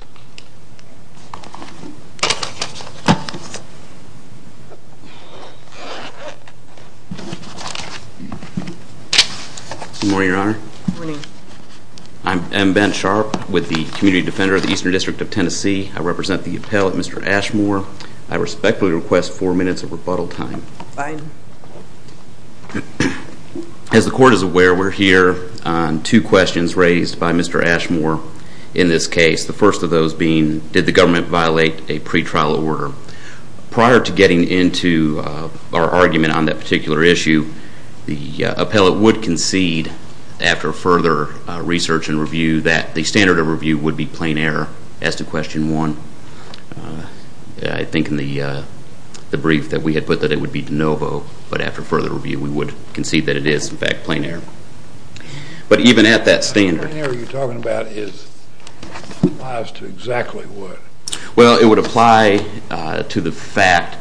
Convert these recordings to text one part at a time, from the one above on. Good morning, your honor. Good morning. I'm Ben Sharp with the Community Defender of the Eastern District of Tennessee. I represent the appellate, Mr. Ashmore. I respectfully request four minutes of rebuttal time. Fine. As the court is aware, we're here on two questions raised by Mr. Ashmore in this case. The first of those being, did the government violate a pretrial order? Prior to getting into our argument on that particular issue, the appellate would concede after further research and review that the standard of review would be plain error as to question one. I think in the brief that we had put that it would be de novo, but after further review we would concede that it is in fact plain error. But even at that standard. Plain error you're talking about applies to exactly what? Well, it would apply to the fact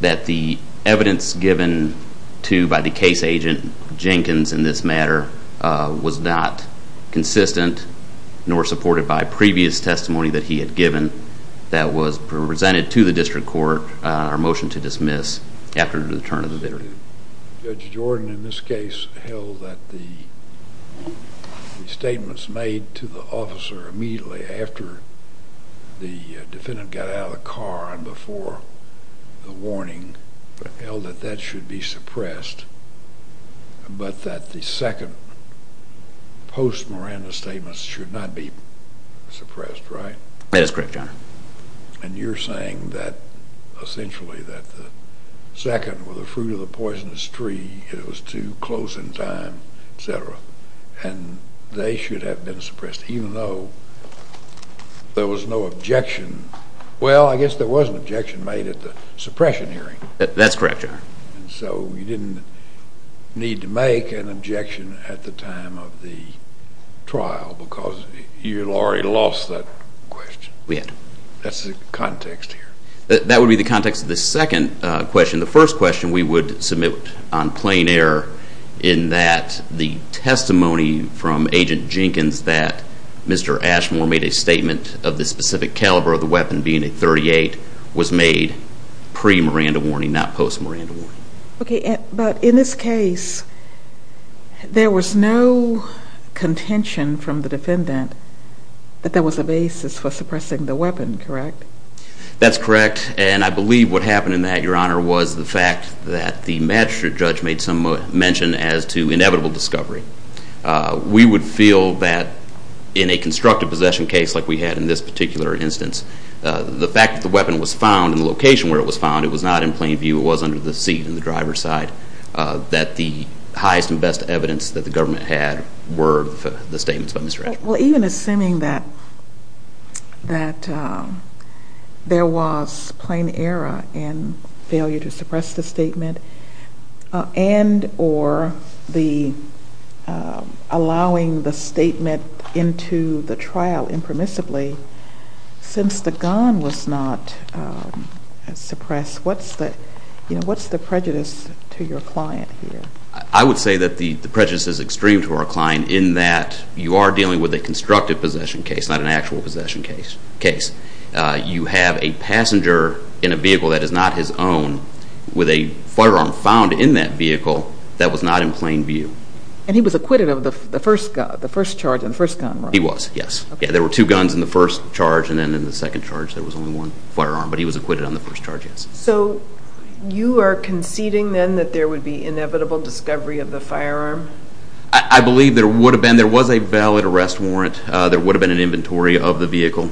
that the evidence given to by the case agent Jenkins in this matter was not consistent nor supported by previous testimony that he had given that was presented to the district court, our motion to dismiss after the return of the victim. Judge Jordan in this case held that the statements made to the officer immediately after the defendant got out of the car and before the warning held that that should be suppressed, but that the second post-Miranda statements should not be suppressed, right? That is correct, Your Honor. And you're saying that essentially that the second was the fruit of the poisonous tree, it was too close in time, et cetera, and they should have been suppressed even though there was no objection. Well, I guess there was an objection made at the suppression hearing. That's correct, Your Honor. And so you didn't need to make an objection at the time of the trial because you already lost that question. We had. That's the context here. That would be the context of the second question. The first question we would submit on plain error in that the testimony from Agent Jenkins that Mr. Ashmore made a statement of the specific caliber of the weapon being a .38 was made pre-Miranda warning, not post-Miranda warning. Okay, but in this case, there was no contention from the defendant that there was a basis for suppressing the weapon, correct? That's correct, and I believe what happened in that, Your Honor, was the fact that the magistrate judge made some mention as to inevitable discovery. We would feel that in a constructive possession case like we had in this particular instance, the fact that the weapon was found in the location where it was found, it was not in plain view, it was under the seat in the driver's side, that the highest and best evidence that the government had were the statements by Mr. Ashmore. Well, even assuming that there was plain error in failure to suppress the statement and or allowing the statement into the trial impermissibly, since the gun was not suppressed, what's the prejudice to your client here? I would say that the prejudice is extreme to our client in that you are dealing with a constructive possession case, not an actual possession case. You have a passenger in a vehicle that is not his own with a firearm found in that vehicle that was not in plain view. And he was acquitted of the first charge and the first gun, right? He was, yes. There were two guns in the first charge and then in the second charge there was only one firearm, but he was acquitted on the first charge, yes. So you are conceding then that there would be inevitable discovery of the firearm? I believe there would have been a very valid arrest warrant. There would have been an inventory of the vehicle.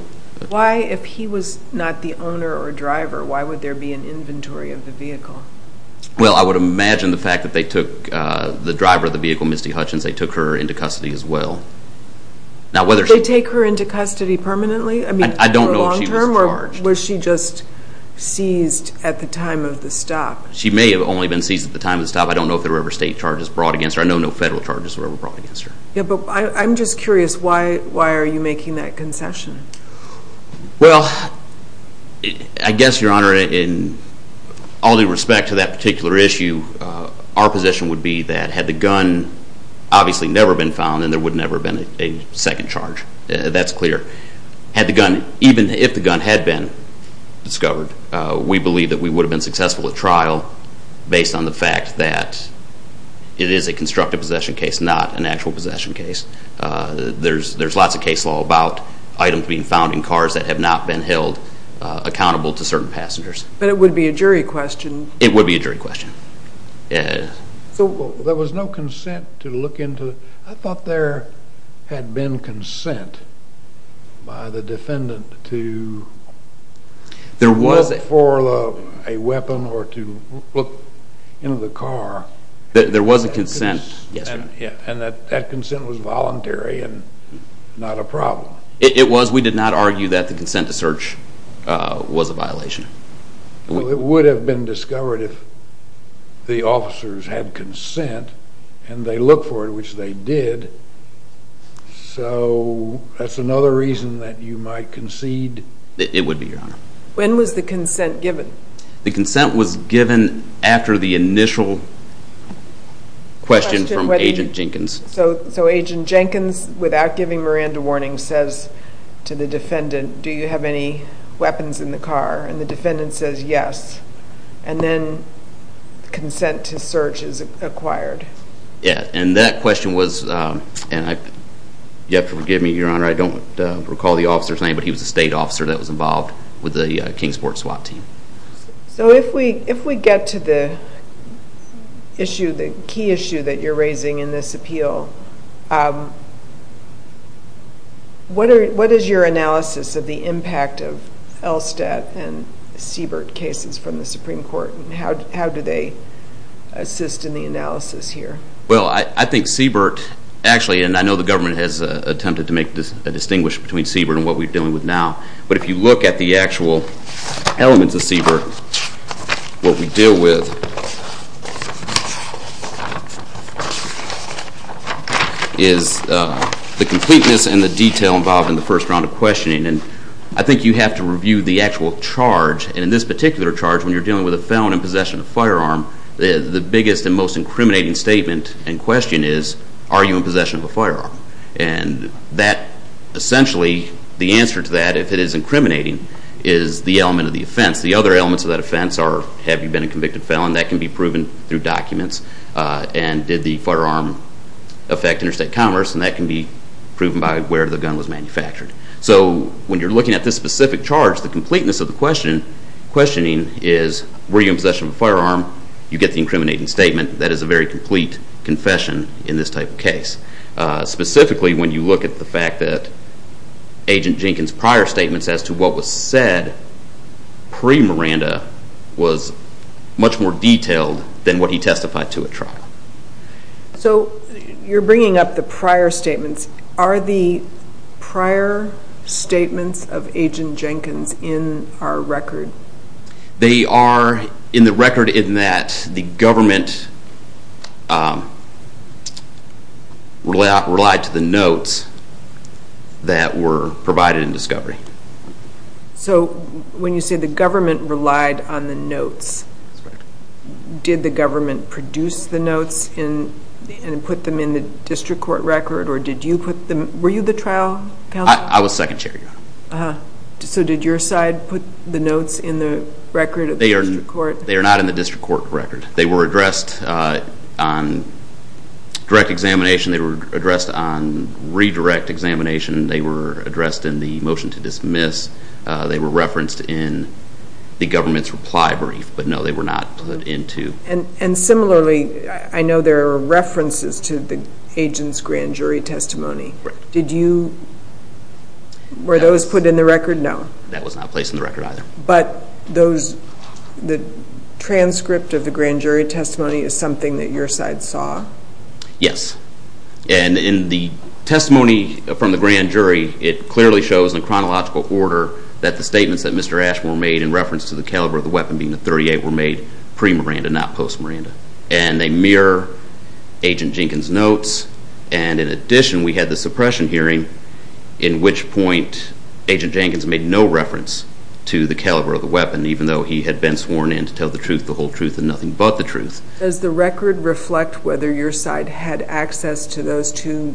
Why, if he was not the owner or driver, why would there be an inventory of the vehicle? Well, I would imagine the fact that they took the driver of the vehicle, Misty Hutchins, they took her into custody as well. Now, whether she... Did they take her into custody permanently? I mean, in the long term? I don't know if she was charged. Or was she just seized at the time of the stop? She may have only been seized at the time of the stop. I don't know if there were ever state charges brought against her. I know no federal charges were ever brought against her. Yeah, but I'm just curious, why are you making that concession? Well, I guess, Your Honor, in all due respect to that particular issue, our position would be that had the gun obviously never been found, then there would never have been a second charge. That's clear. Had the gun... Even if the gun had been discovered, we believe that we would have been successful at trial based on the fact that it is a constructive possession case, not an actual possession case. There's lots of case law about items being found in cars that have not been held accountable to certain passengers. But it would be a jury question? It would be a jury question. So there was no consent to look into... I thought there had been consent by the defendant to look for a weapon or to look into the car. There was a consent. Yes, consent was voluntary and not a problem. It was. We did not argue that the consent to search was a violation. Well, it would have been discovered if the officers had consent and they looked for it, which they did. So that's another reason that you might concede? It would be, Your Honor. When was the consent given? The consent was given after the initial question from Agent Jenkins. So Agent Jenkins, without giving Miranda warning, says to the defendant, do you have any weapons in the car? And the defendant says yes. And then consent to search is acquired. Yeah. And that question was... You have to forgive me, Your Honor. I don't recall the officer's name, but he was a state officer that was involved with the issue that you're raising in this appeal. What is your analysis of the impact of Elstadt and Siebert cases from the Supreme Court? How do they assist in the analysis here? Well, I think Siebert actually... And I know the government has attempted to make a distinguish between Siebert and what we're dealing with now. But if you look at the actual elements of Siebert, what we deal with is the completeness and the detail involved in the first round of questioning. And I think you have to review the actual charge. And in this particular charge, when you're dealing with a felon in possession of a firearm, the biggest and most incriminating statement in question is, are you in possession of a firearm? And that, essentially, the answer to that, if it is incriminating, is the element of the offense. The other elements of that offense are, have you been convicted of felon? That can be proven through documents. And did the firearm affect interstate commerce? And that can be proven by where the gun was manufactured. So when you're looking at this specific charge, the completeness of the questioning is, were you in possession of a firearm? You get the incriminating statement. That is a very complete confession in this type of case. Specifically, when you look at the fact that Agent Jenkins' prior statements as to what was said pre-Miranda was much more detailed than what he testified to at trial. So you're bringing up the prior statements. Are the prior statements of Agent Jenkins in our record? They are in the record in that the government relied to the notes that were provided in discovery. So when you say the notes, did the government produce the notes and put them in the district court record? Or did you put them, were you the trial counsel? I was second chair. So did your side put the notes in the record of the district court? They are not in the district court record. They were addressed on direct examination. They were addressed on redirect examination. They were addressed in the reply brief. But no, they were not put into. And similarly, I know there are references to the agent's grand jury testimony. Did you, were those put in the record? No. That was not placed in the record either. But those, the transcript of the grand jury testimony is something that your side saw? Yes. And in the testimony from the grand jury, it clearly shows in chronological order that the statements that Mr. Ashmore made in reference to the caliber of the weapon being the .38 were made pre-Miranda, not post-Miranda. And they mirror Agent Jenkins' notes. And in addition, we had the suppression hearing in which point Agent Jenkins made no reference to the caliber of the weapon, even though he had been sworn in to tell the truth, the whole truth, and nothing but the truth. Does the record reflect whether your side had access to those two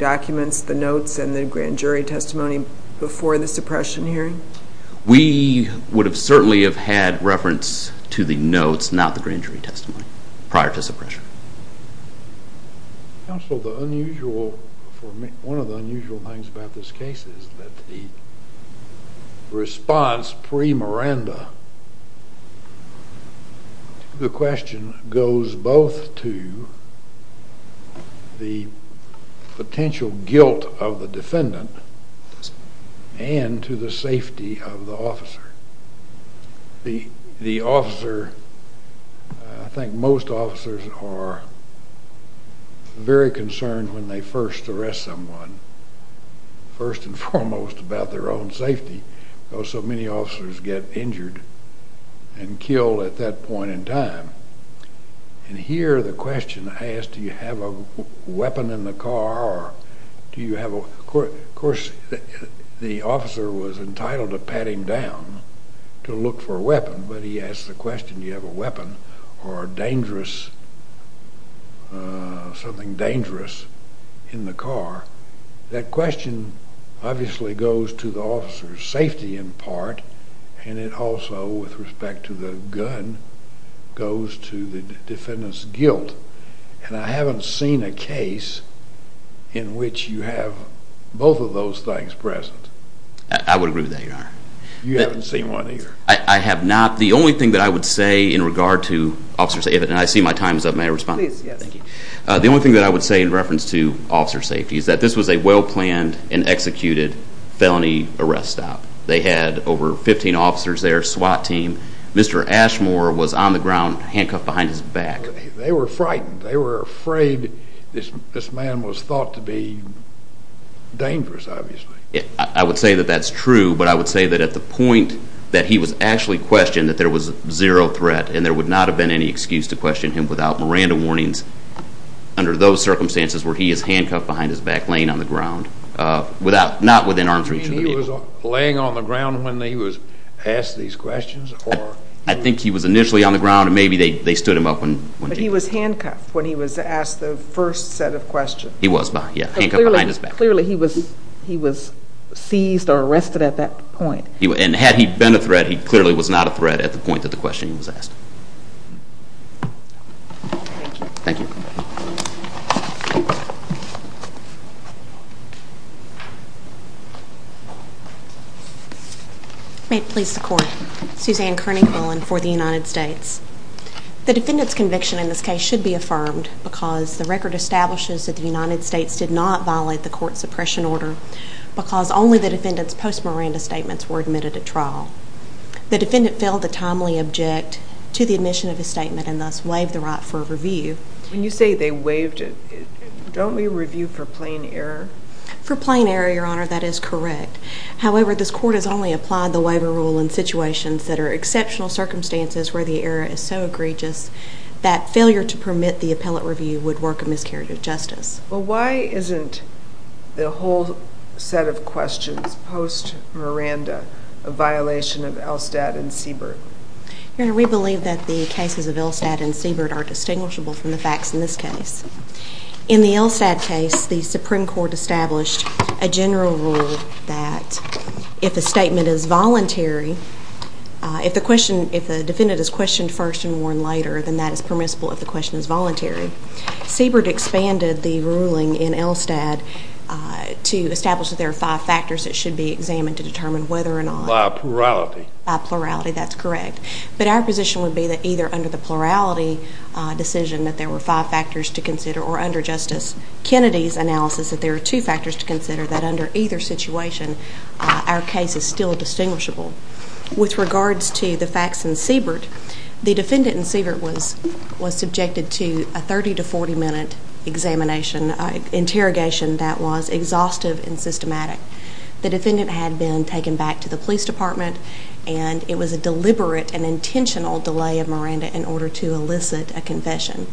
We would have certainly have had reference to the notes, not the grand jury testimony, prior to suppression. Counsel, the unusual, for me, one of the unusual things about this case is that the response pre-Miranda to the question goes both to the potential guilt of the defendant and to the safety of the officer. The officer, I think most officers are very concerned when they first arrest someone, first and foremost about their own safety, because so many officers get injured and killed at that point in time. And here the question is, do you have a weapon in the car? Of course, the officer was entitled to pat him down to look for a weapon, but he asked the question, do you have a weapon or something dangerous in the car? That question obviously goes to the officer's safety in part, and it also, with respect to the gun, goes to the defendant's guilt. And I haven't seen a case in which you have both of those things present. I would agree with that, your honor. You haven't seen one either. I have not. The only thing that I would say in regard to officers, and I see my time is up, may I respond? Please, yes. Thank you. The only thing that I would say in reference to officer safety is that this was a well-planned and executed felony arrest stop. They had over 15 officers there, SWAT team. Mr. Ashmore was on the ground, handcuffed behind his back. They were frightened. They were afraid this man was thought to be dangerous, obviously. I would say that that's true, but I would say that at the point that he was actually questioned, that there was zero threat, and there would not have been any excuse to question him without Miranda warnings under those circumstances where he is handcuffed behind his back, laying on the ground. I think he was initially on the ground, and maybe they stood him up. He was handcuffed when he was asked the first set of questions. He was, yes, handcuffed behind his back. Clearly, he was seized or arrested at that point. And had he been a threat, he clearly was not a threat at the point that the question was asked. Thank you. May it please the Court. Suzanne Kearney-Cullen for the United States. The defendant's conviction in this case should be affirmed because the record establishes that the United States did not violate the court's suppression order because only the defendant's post-Miranda statements were admitted at trial. The defendant failed to timely object to the admission of his statement and thus for review. When you say they waived it, don't we review for plain error? For plain error, Your Honor, that is correct. However, this court has only applied the waiver rule in situations that are exceptional circumstances where the error is so egregious that failure to permit the appellate review would work a miscarriage of justice. Well, why isn't the whole set of questions post-Miranda a violation of Elstad and Siebert? Your Honor, we believe that the cases of Elstad and Siebert are distinguishable from the facts in this case. In the Elstad case, the Supreme Court established a general rule that if a statement is voluntary, if the defendant is questioned first and warned later, then that is permissible if the question is voluntary. Siebert expanded the ruling in Elstad to establish that there are five factors that should be examined to determine whether or not... By plurality. By plurality, that's correct. But our position would be that either under the plurality decision that there were five factors to consider or under Justice Kennedy's analysis that there are two factors to consider that under either situation, our case is still distinguishable. With regards to the facts in Siebert, the defendant in Siebert was subjected to a 30 to 40 minute interrogation that was exhaustive and systematic. The defendant had been taken back to the police department and it was a deliberate and intentional delay of Miranda in order to elicit a confession.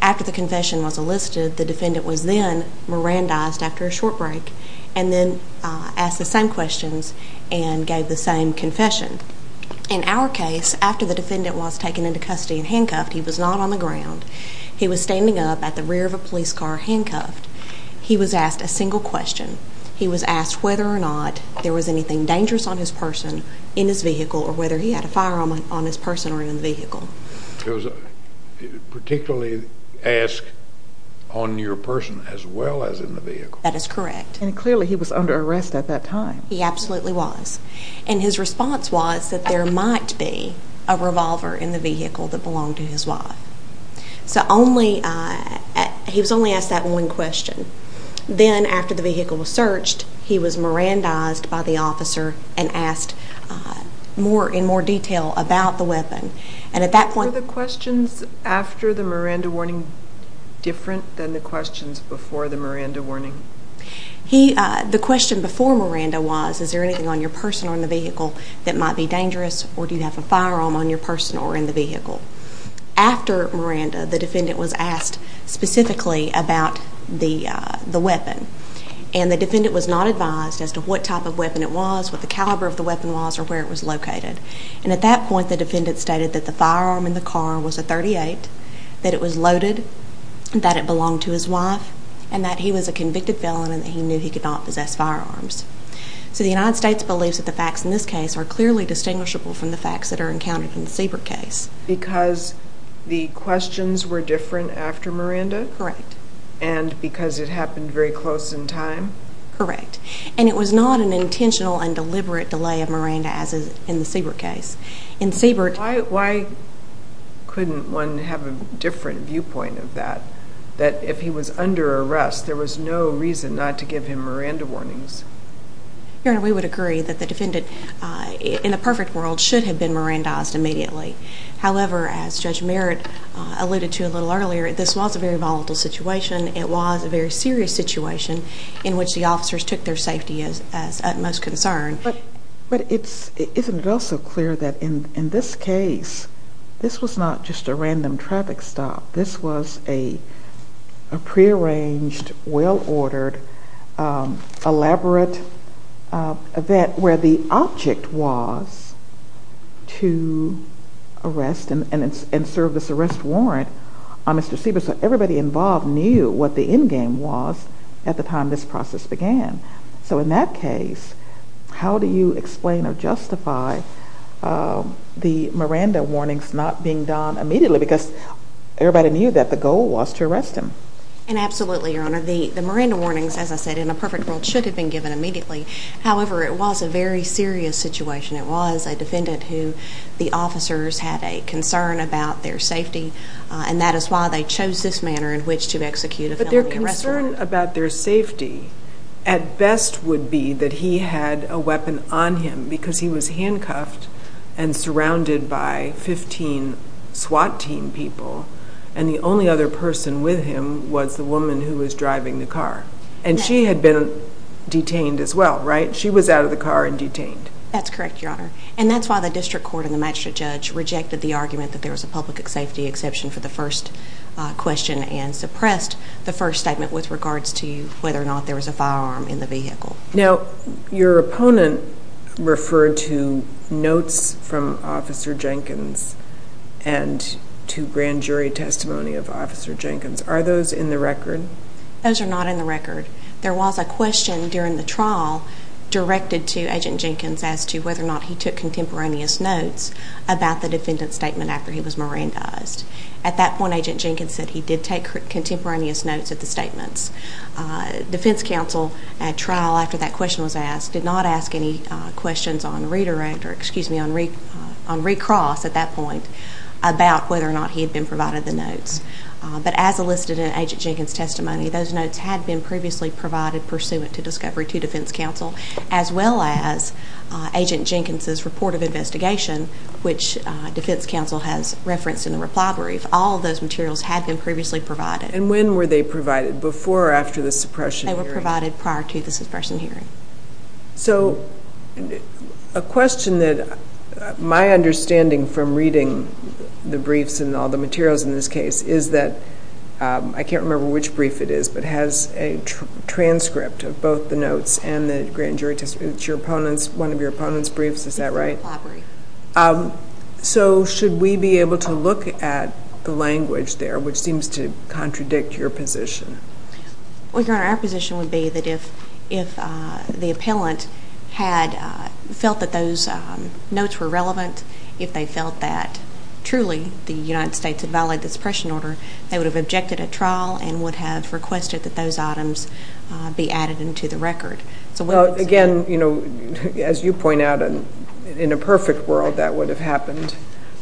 After the confession was elicited, the defendant was then Mirandized after a short break and then asked the same questions and gave the same confession. In our case, after the defendant was taken into custody and handcuffed, he was not on the ground. He was standing up at the rear of a police car handcuffed. He was asked a single question. He was asked whether or not there was anything dangerous on person in his vehicle or whether he had a firearm on his person or in the vehicle. Particularly ask on your person as well as in the vehicle. That is correct. And clearly he was under arrest at that time. He absolutely was. And his response was that there might be a revolver in the vehicle that belonged to his wife. So he was only asked that one question. Then after the vehicle was searched, he was Mirandized by the officer and asked in more detail about the weapon. And at that point... Were the questions after the Miranda warning different than the questions before the Miranda warning? The question before Miranda was, is there anything on your person or in the vehicle that might be dangerous or do you have a firearm on your person or in the vehicle? After Miranda, the defendant was asked specifically about the weapon. And the defendant was not advised as to what type of weapon it was, what the caliber of the weapon was or where it was located. And at that point, the defendant stated that the firearm in the car was a .38, that it was loaded, that it belonged to his wife and that he was a convicted felon and he knew he could not possess firearms. So the United States believes that the facts in this case are clearly distinguishable from the facts that are encountered in the Siebert case. Because the questions were different after Miranda? Correct. And because it happened very close in time? Correct. And it was not an intentional and deliberate delay of Miranda as in the Siebert case. In Siebert... Why couldn't one have a different viewpoint of that? That if he was under arrest, there was no reason not to give him Miranda warnings? Your Honor, we would agree that the defendant in the perfect world should have been Mirandized immediately. However, as Judge Merritt alluded to a little earlier, this was a very volatile situation. It was a very serious situation in which the officers took their safety as utmost concern. But isn't it also clear that in this case, this was not just a random traffic stop. This was a arrest and served as an arrest warrant on Mr. Siebert. So everybody involved knew what the endgame was at the time this process began. So in that case, how do you explain or justify the Miranda warnings not being done immediately? Because everybody knew that the goal was to arrest him. And absolutely, Your Honor. The Miranda warnings, as I said, in a perfect world should have been given immediately. However, it was a very serious situation. It was a defendant who the officers had a concern about their safety. And that is why they chose this manner in which to execute a felony arrest warrant. But their concern about their safety at best would be that he had a weapon on him because he was handcuffed and surrounded by 15 SWAT team people. And the only other person with him was the woman who was driving the car. And she had been detained as well, right? She was out of the car and detained. That's correct, Your Honor. And that's why the district court and the magistrate judge rejected the argument that there was a public safety exception for the first question and suppressed the first statement with regards to whether or not there was a firearm in the vehicle. Now, your opponent referred to notes from Officer Jenkins and to grand jury testimony of Officer Jenkins. Are those in the record? Those are not in the record. There was a question during the trial directed to Agent Jenkins as to whether or not he took contemporaneous notes about the defendant's statement after he was mirandized. At that point, Agent Jenkins said he did take contemporaneous notes of the statements. Defense counsel at trial after that question was asked did not ask any questions on redirect, or excuse me, on recross at that point about whether or not he had been provided the notes. But as elicited in Agent Jenkins' testimony, those notes had been previously provided pursuant to discovery to defense counsel, as well as Agent Jenkins' report of investigation, which defense counsel has referenced in the reply brief. All of those materials had been previously provided. And when were they provided? Before or after the suppression hearing? They were provided prior to the suppression hearing. So a question that my understanding from reading the briefs and all the materials in this case is that I can't remember which brief it is, but it has a transcript of both the notes and the grand jury testimony. It's your opponent's, one of your opponent's briefs, is that right? So should we be able to look at the language there, which seems to contradict your position? Well, Your Honor, our position would be that if the appellant had felt that those notes were they would have objected at trial and would have requested that those items be added into the record. Again, as you point out, in a perfect world that would have happened,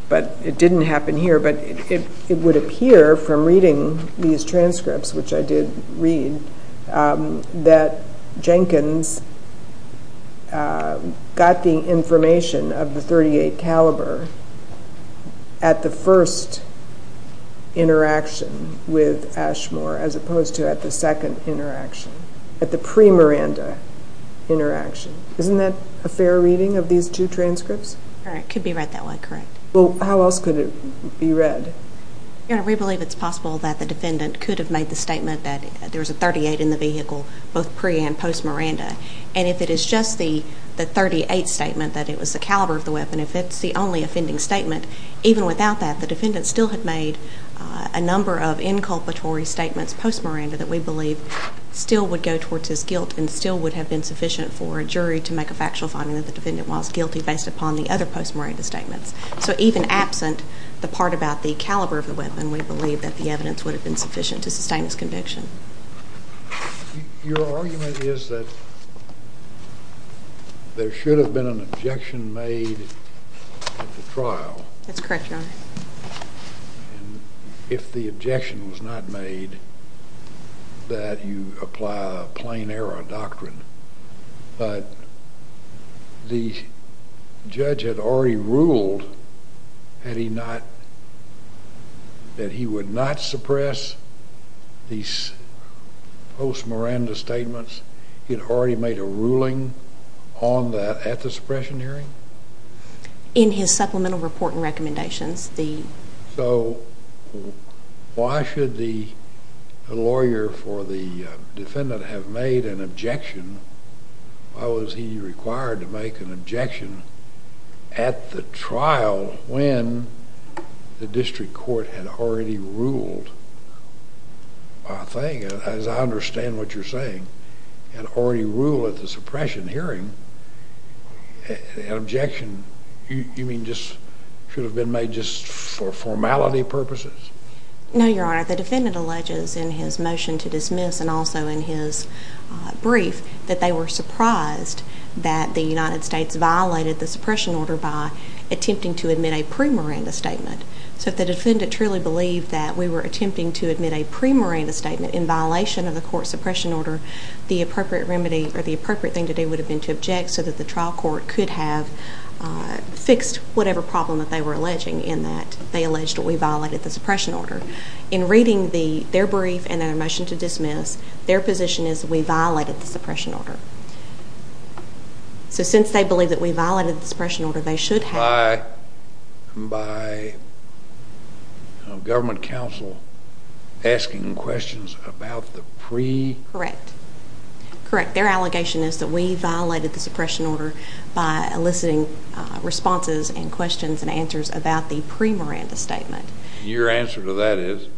but it didn't happen here. But it would appear from reading these transcripts, which I did read, that Jenkins got the information of the .38 caliber at the first interaction with Ashmore as opposed to at the second interaction, at the pre-Miranda interaction. Isn't that a fair reading of these two transcripts? It could be read that way, correct. Well, how else could it be read? Your Honor, we believe it's possible that the defendant could have made the statement that there was a .38 in the vehicle, both pre- and post-Miranda. And if it is just the .38 statement that it was the caliber of the weapon, if it's the only offending statement, even without that, the defendant still had made a number of inculpatory statements post-Miranda that we believe still would go towards his guilt and still would have been sufficient for a jury to make a factual finding that the defendant was guilty based upon the other post-Miranda statements. So even absent the part about the caliber of the weapon, we believe that the evidence would have been sufficient to sustain his conviction. Your argument is that there should have been an objection made at the trial. That's correct, Your Honor. And if the objection was not made, that you apply a plain error doctrine. But the judge had already ruled that he would not suppress these post-Miranda statements. He had already made a ruling on that at the suppression hearing? In his supplemental report and recommendations. So why should the lawyer for the defendant have made an objection? Why was he required to make an objection at the trial when the district court had already ruled? I think, as I understand what you're saying, had already ruled at the suppression hearing that an objection should have been made just for formality purposes? No, Your Honor. The defendant alleges in his motion to dismiss and also in his brief that they were surprised that the United States violated the suppression order by attempting to admit a pre-Miranda statement. So if the defendant truly believed that we were attempting to admit a pre-Miranda statement in violation of the court suppression order, the appropriate remedy or the appropriate thing to do would have been to object so that the trial court could have fixed whatever problem that they were alleging in that they alleged that we violated the suppression order. In reading their brief and their motion to dismiss, their position is that we violated the suppression order. So since they believe that we violated the suppression order, they should have. By a government counsel asking questions about the pre-Miranda statement? Correct. Correct. Their allegation is that we violated the suppression order by eliciting responses and questions and answers about the pre-Miranda statement. Your answer to that is?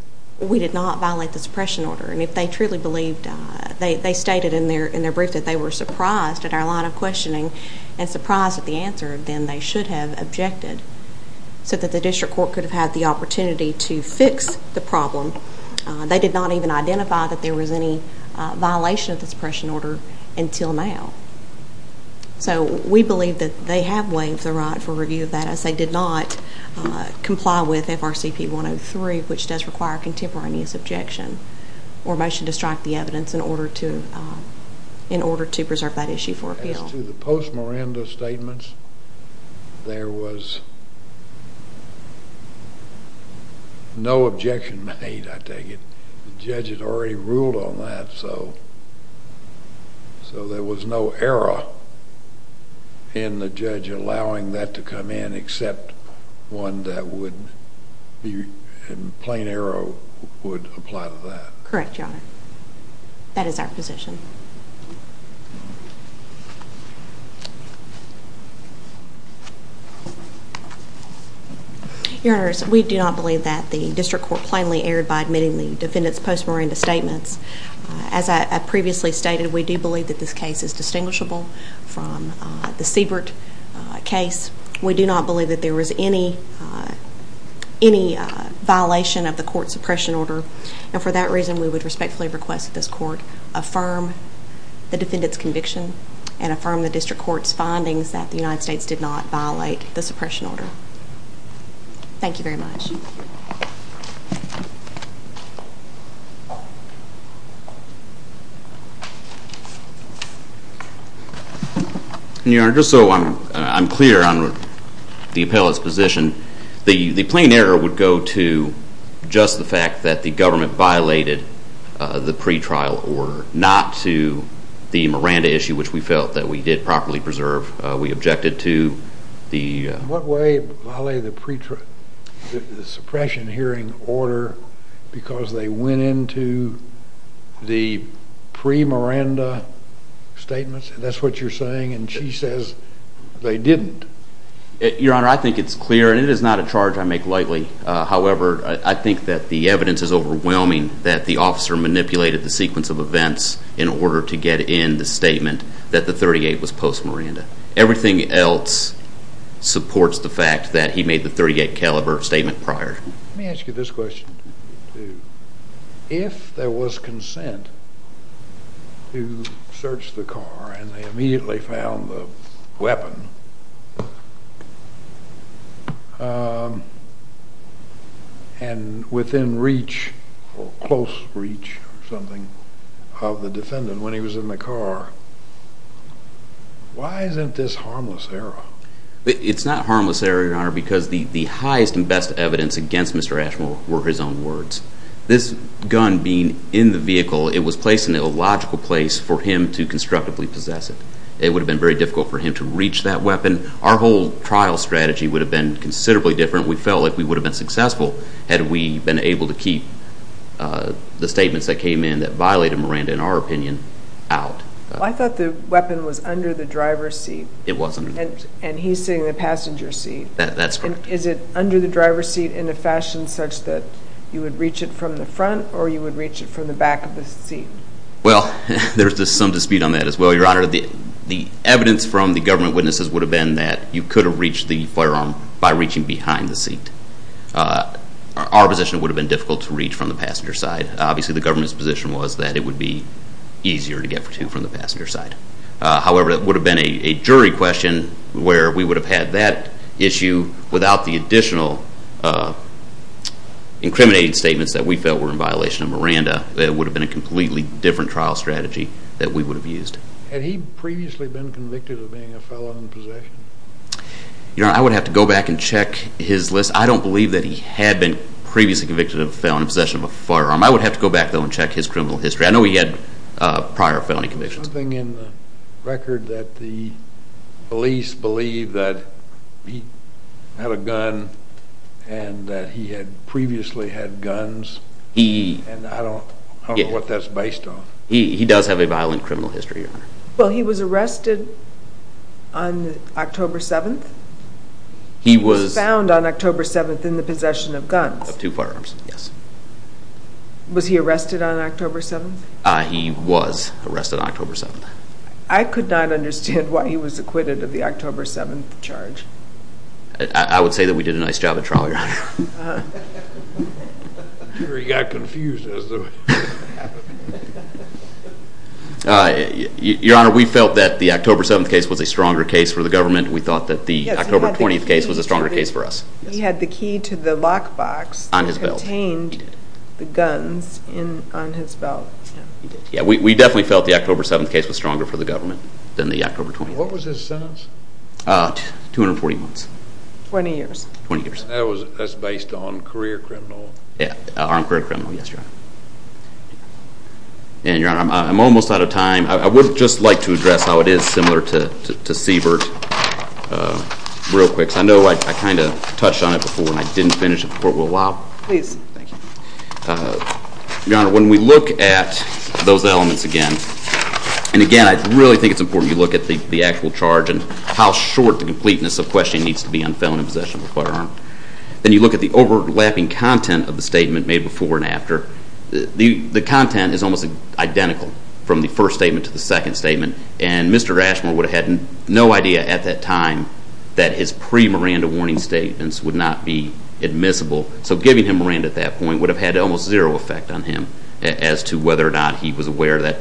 We did not violate the suppression order and if they truly believed, they stated in their brief that they were surprised at our line of questioning and surprised at the answer, then they should have objected so that the district court could have the opportunity to fix the problem. They did not even identify that there was any violation of the suppression order until now. So we believe that they have waived the right for review of that as they did not comply with FRCP 103, which does require contemporaneous objection or motion to strike the evidence in order to preserve that issue for appeal. As to the post-Miranda statements, there was no objection made, I take it. The judge had already ruled on that, so there was no error in the judge allowing that to come in except one that would be in plain error would apply to that. Correct, Your Honor. That is our position. Your Honor, we do not believe that the district court plainly erred by admitting the defendant's post-Miranda statements. As I previously stated, we do believe that this case is distinguishable from the Siebert case. We do not believe that there was any violation of the court's suppression order and for that reason, we would respectfully request that this court affirm the defendant's findings that the United States did not violate the suppression order. Thank you very much. Your Honor, just so I'm clear on the appellate's position, the plain error would go to just the fact that the government violated the pretrial order, not to the Miranda issue, which we felt that we did properly preserve. We objected to the... What way violated the suppression hearing order because they went into the pre-Miranda statements? That's what you're saying and she says they didn't. Your Honor, I think it's clear and it is not a charge I make lightly. However, I think that the evidence is overwhelming that the officer manipulated the sequence of events in order to get in the statement that the .38 was post-Miranda. Everything else supports the fact that he made the .38 caliber statement prior. Let me ask you this question. If there was consent to search the car and they immediately found the weapon and within reach or close reach or something of the defendant when he was in the car, why isn't this harmless error? It's not harmless error, Your Honor, because the highest and best evidence against Mr. Ashmore were his own words. This gun being in the vehicle, it was placed in an illogical place for him to constructively possess it. It would have been very difficult for him to reach that weapon. Our whole trial strategy would have been considerably different. We felt like we would have been successful had we been able to keep the statements that came in that violated Miranda, in our opinion, out. I thought the weapon was under the driver's seat. It wasn't. And he's sitting in the passenger seat. That's correct. Is it under the driver's seat in a fashion such that you would reach it from the front or you would reach it from the back of the seat? Well, there's some dispute on that as well, Your Honor. The evidence from the government witnesses would have been that you could have reached the firearm by reaching behind the seat. Our position would have been difficult to reach from the passenger side. Obviously the government's position was that it would be easier to get to from the passenger side. However, it would have been a jury question where we would have had that issue without the additional incriminating statements that we felt were in violation of Miranda. It would have been a completely different trial strategy that we would have used. Had he previously been convicted of being a felon in possession? Your Honor, I would have to go back and check his list. I don't believe that he had been previously convicted of felon in possession of a firearm. I would have to go back though and check his criminal history. I know he had prior felony convictions. Something in the record that the I don't know what that's based on. He does have a violent criminal history, Your Honor. Well, he was arrested on October 7th? He was found on October 7th in the possession of guns? Of two firearms, yes. Was he arrested on October 7th? He was arrested on October 7th. I could not understand why he was acquitted of the October 7th charge. I would say that we did a nice job trial, Your Honor. I'm sure he got confused as to what happened. Your Honor, we felt that the October 7th case was a stronger case for the government. We thought that the October 20th case was a stronger case for us. He had the key to the lockbox that contained the guns on his belt. Yeah, we definitely felt the October 7th case was stronger for the government than the October 20th. What was his sentence? 240 months. 20 years. 20 years. That's based on career criminal? Yeah, armed career criminal, yes, Your Honor. And Your Honor, I'm almost out of time. I would just like to address how it is similar to Siebert real quick. I know I kind of touched on it before and I didn't finish it before we were allowed. Please, thank you. Your Honor, when we look at those elements again, and again I really think it's important you look at the actual charge and how short the completeness of the question needs to be on felony possession of a firearm. Then you look at the overlapping content of the statement made before and after. The content is almost identical from the first statement to the second statement. And Mr. Ashmore would have had no idea at that time that his pre-Miranda warning statements would not be admissible. So giving him Miranda at that point would have had almost zero effect on him as to whether or not he was aware that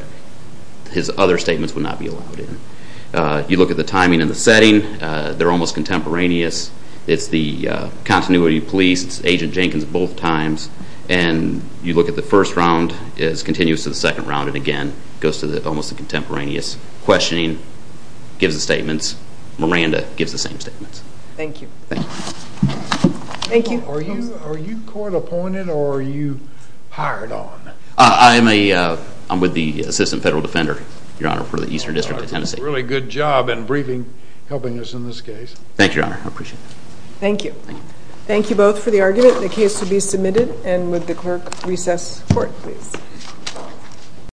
his other statements would not be allowed in. You look at the timing and the setting, they're almost contemporaneous. It's the continuity of police, it's Agent Jenkins both times. And you look at the first round, it's continuous to the second round and again, it goes to almost the contemporaneous. Questioning gives the statements. Miranda gives the same statements. Thank you. Thank you. Thank you. Are you court appointed or are you hired on? I'm with the Assistant Federal Defender, Your Honor, for the Eastern District of Tennessee. Really good job in briefing, helping us in this case. Thank you, Your Honor, I appreciate it. Thank you. Thank you both for the argument. The case will be submitted and would the clerk recess court please.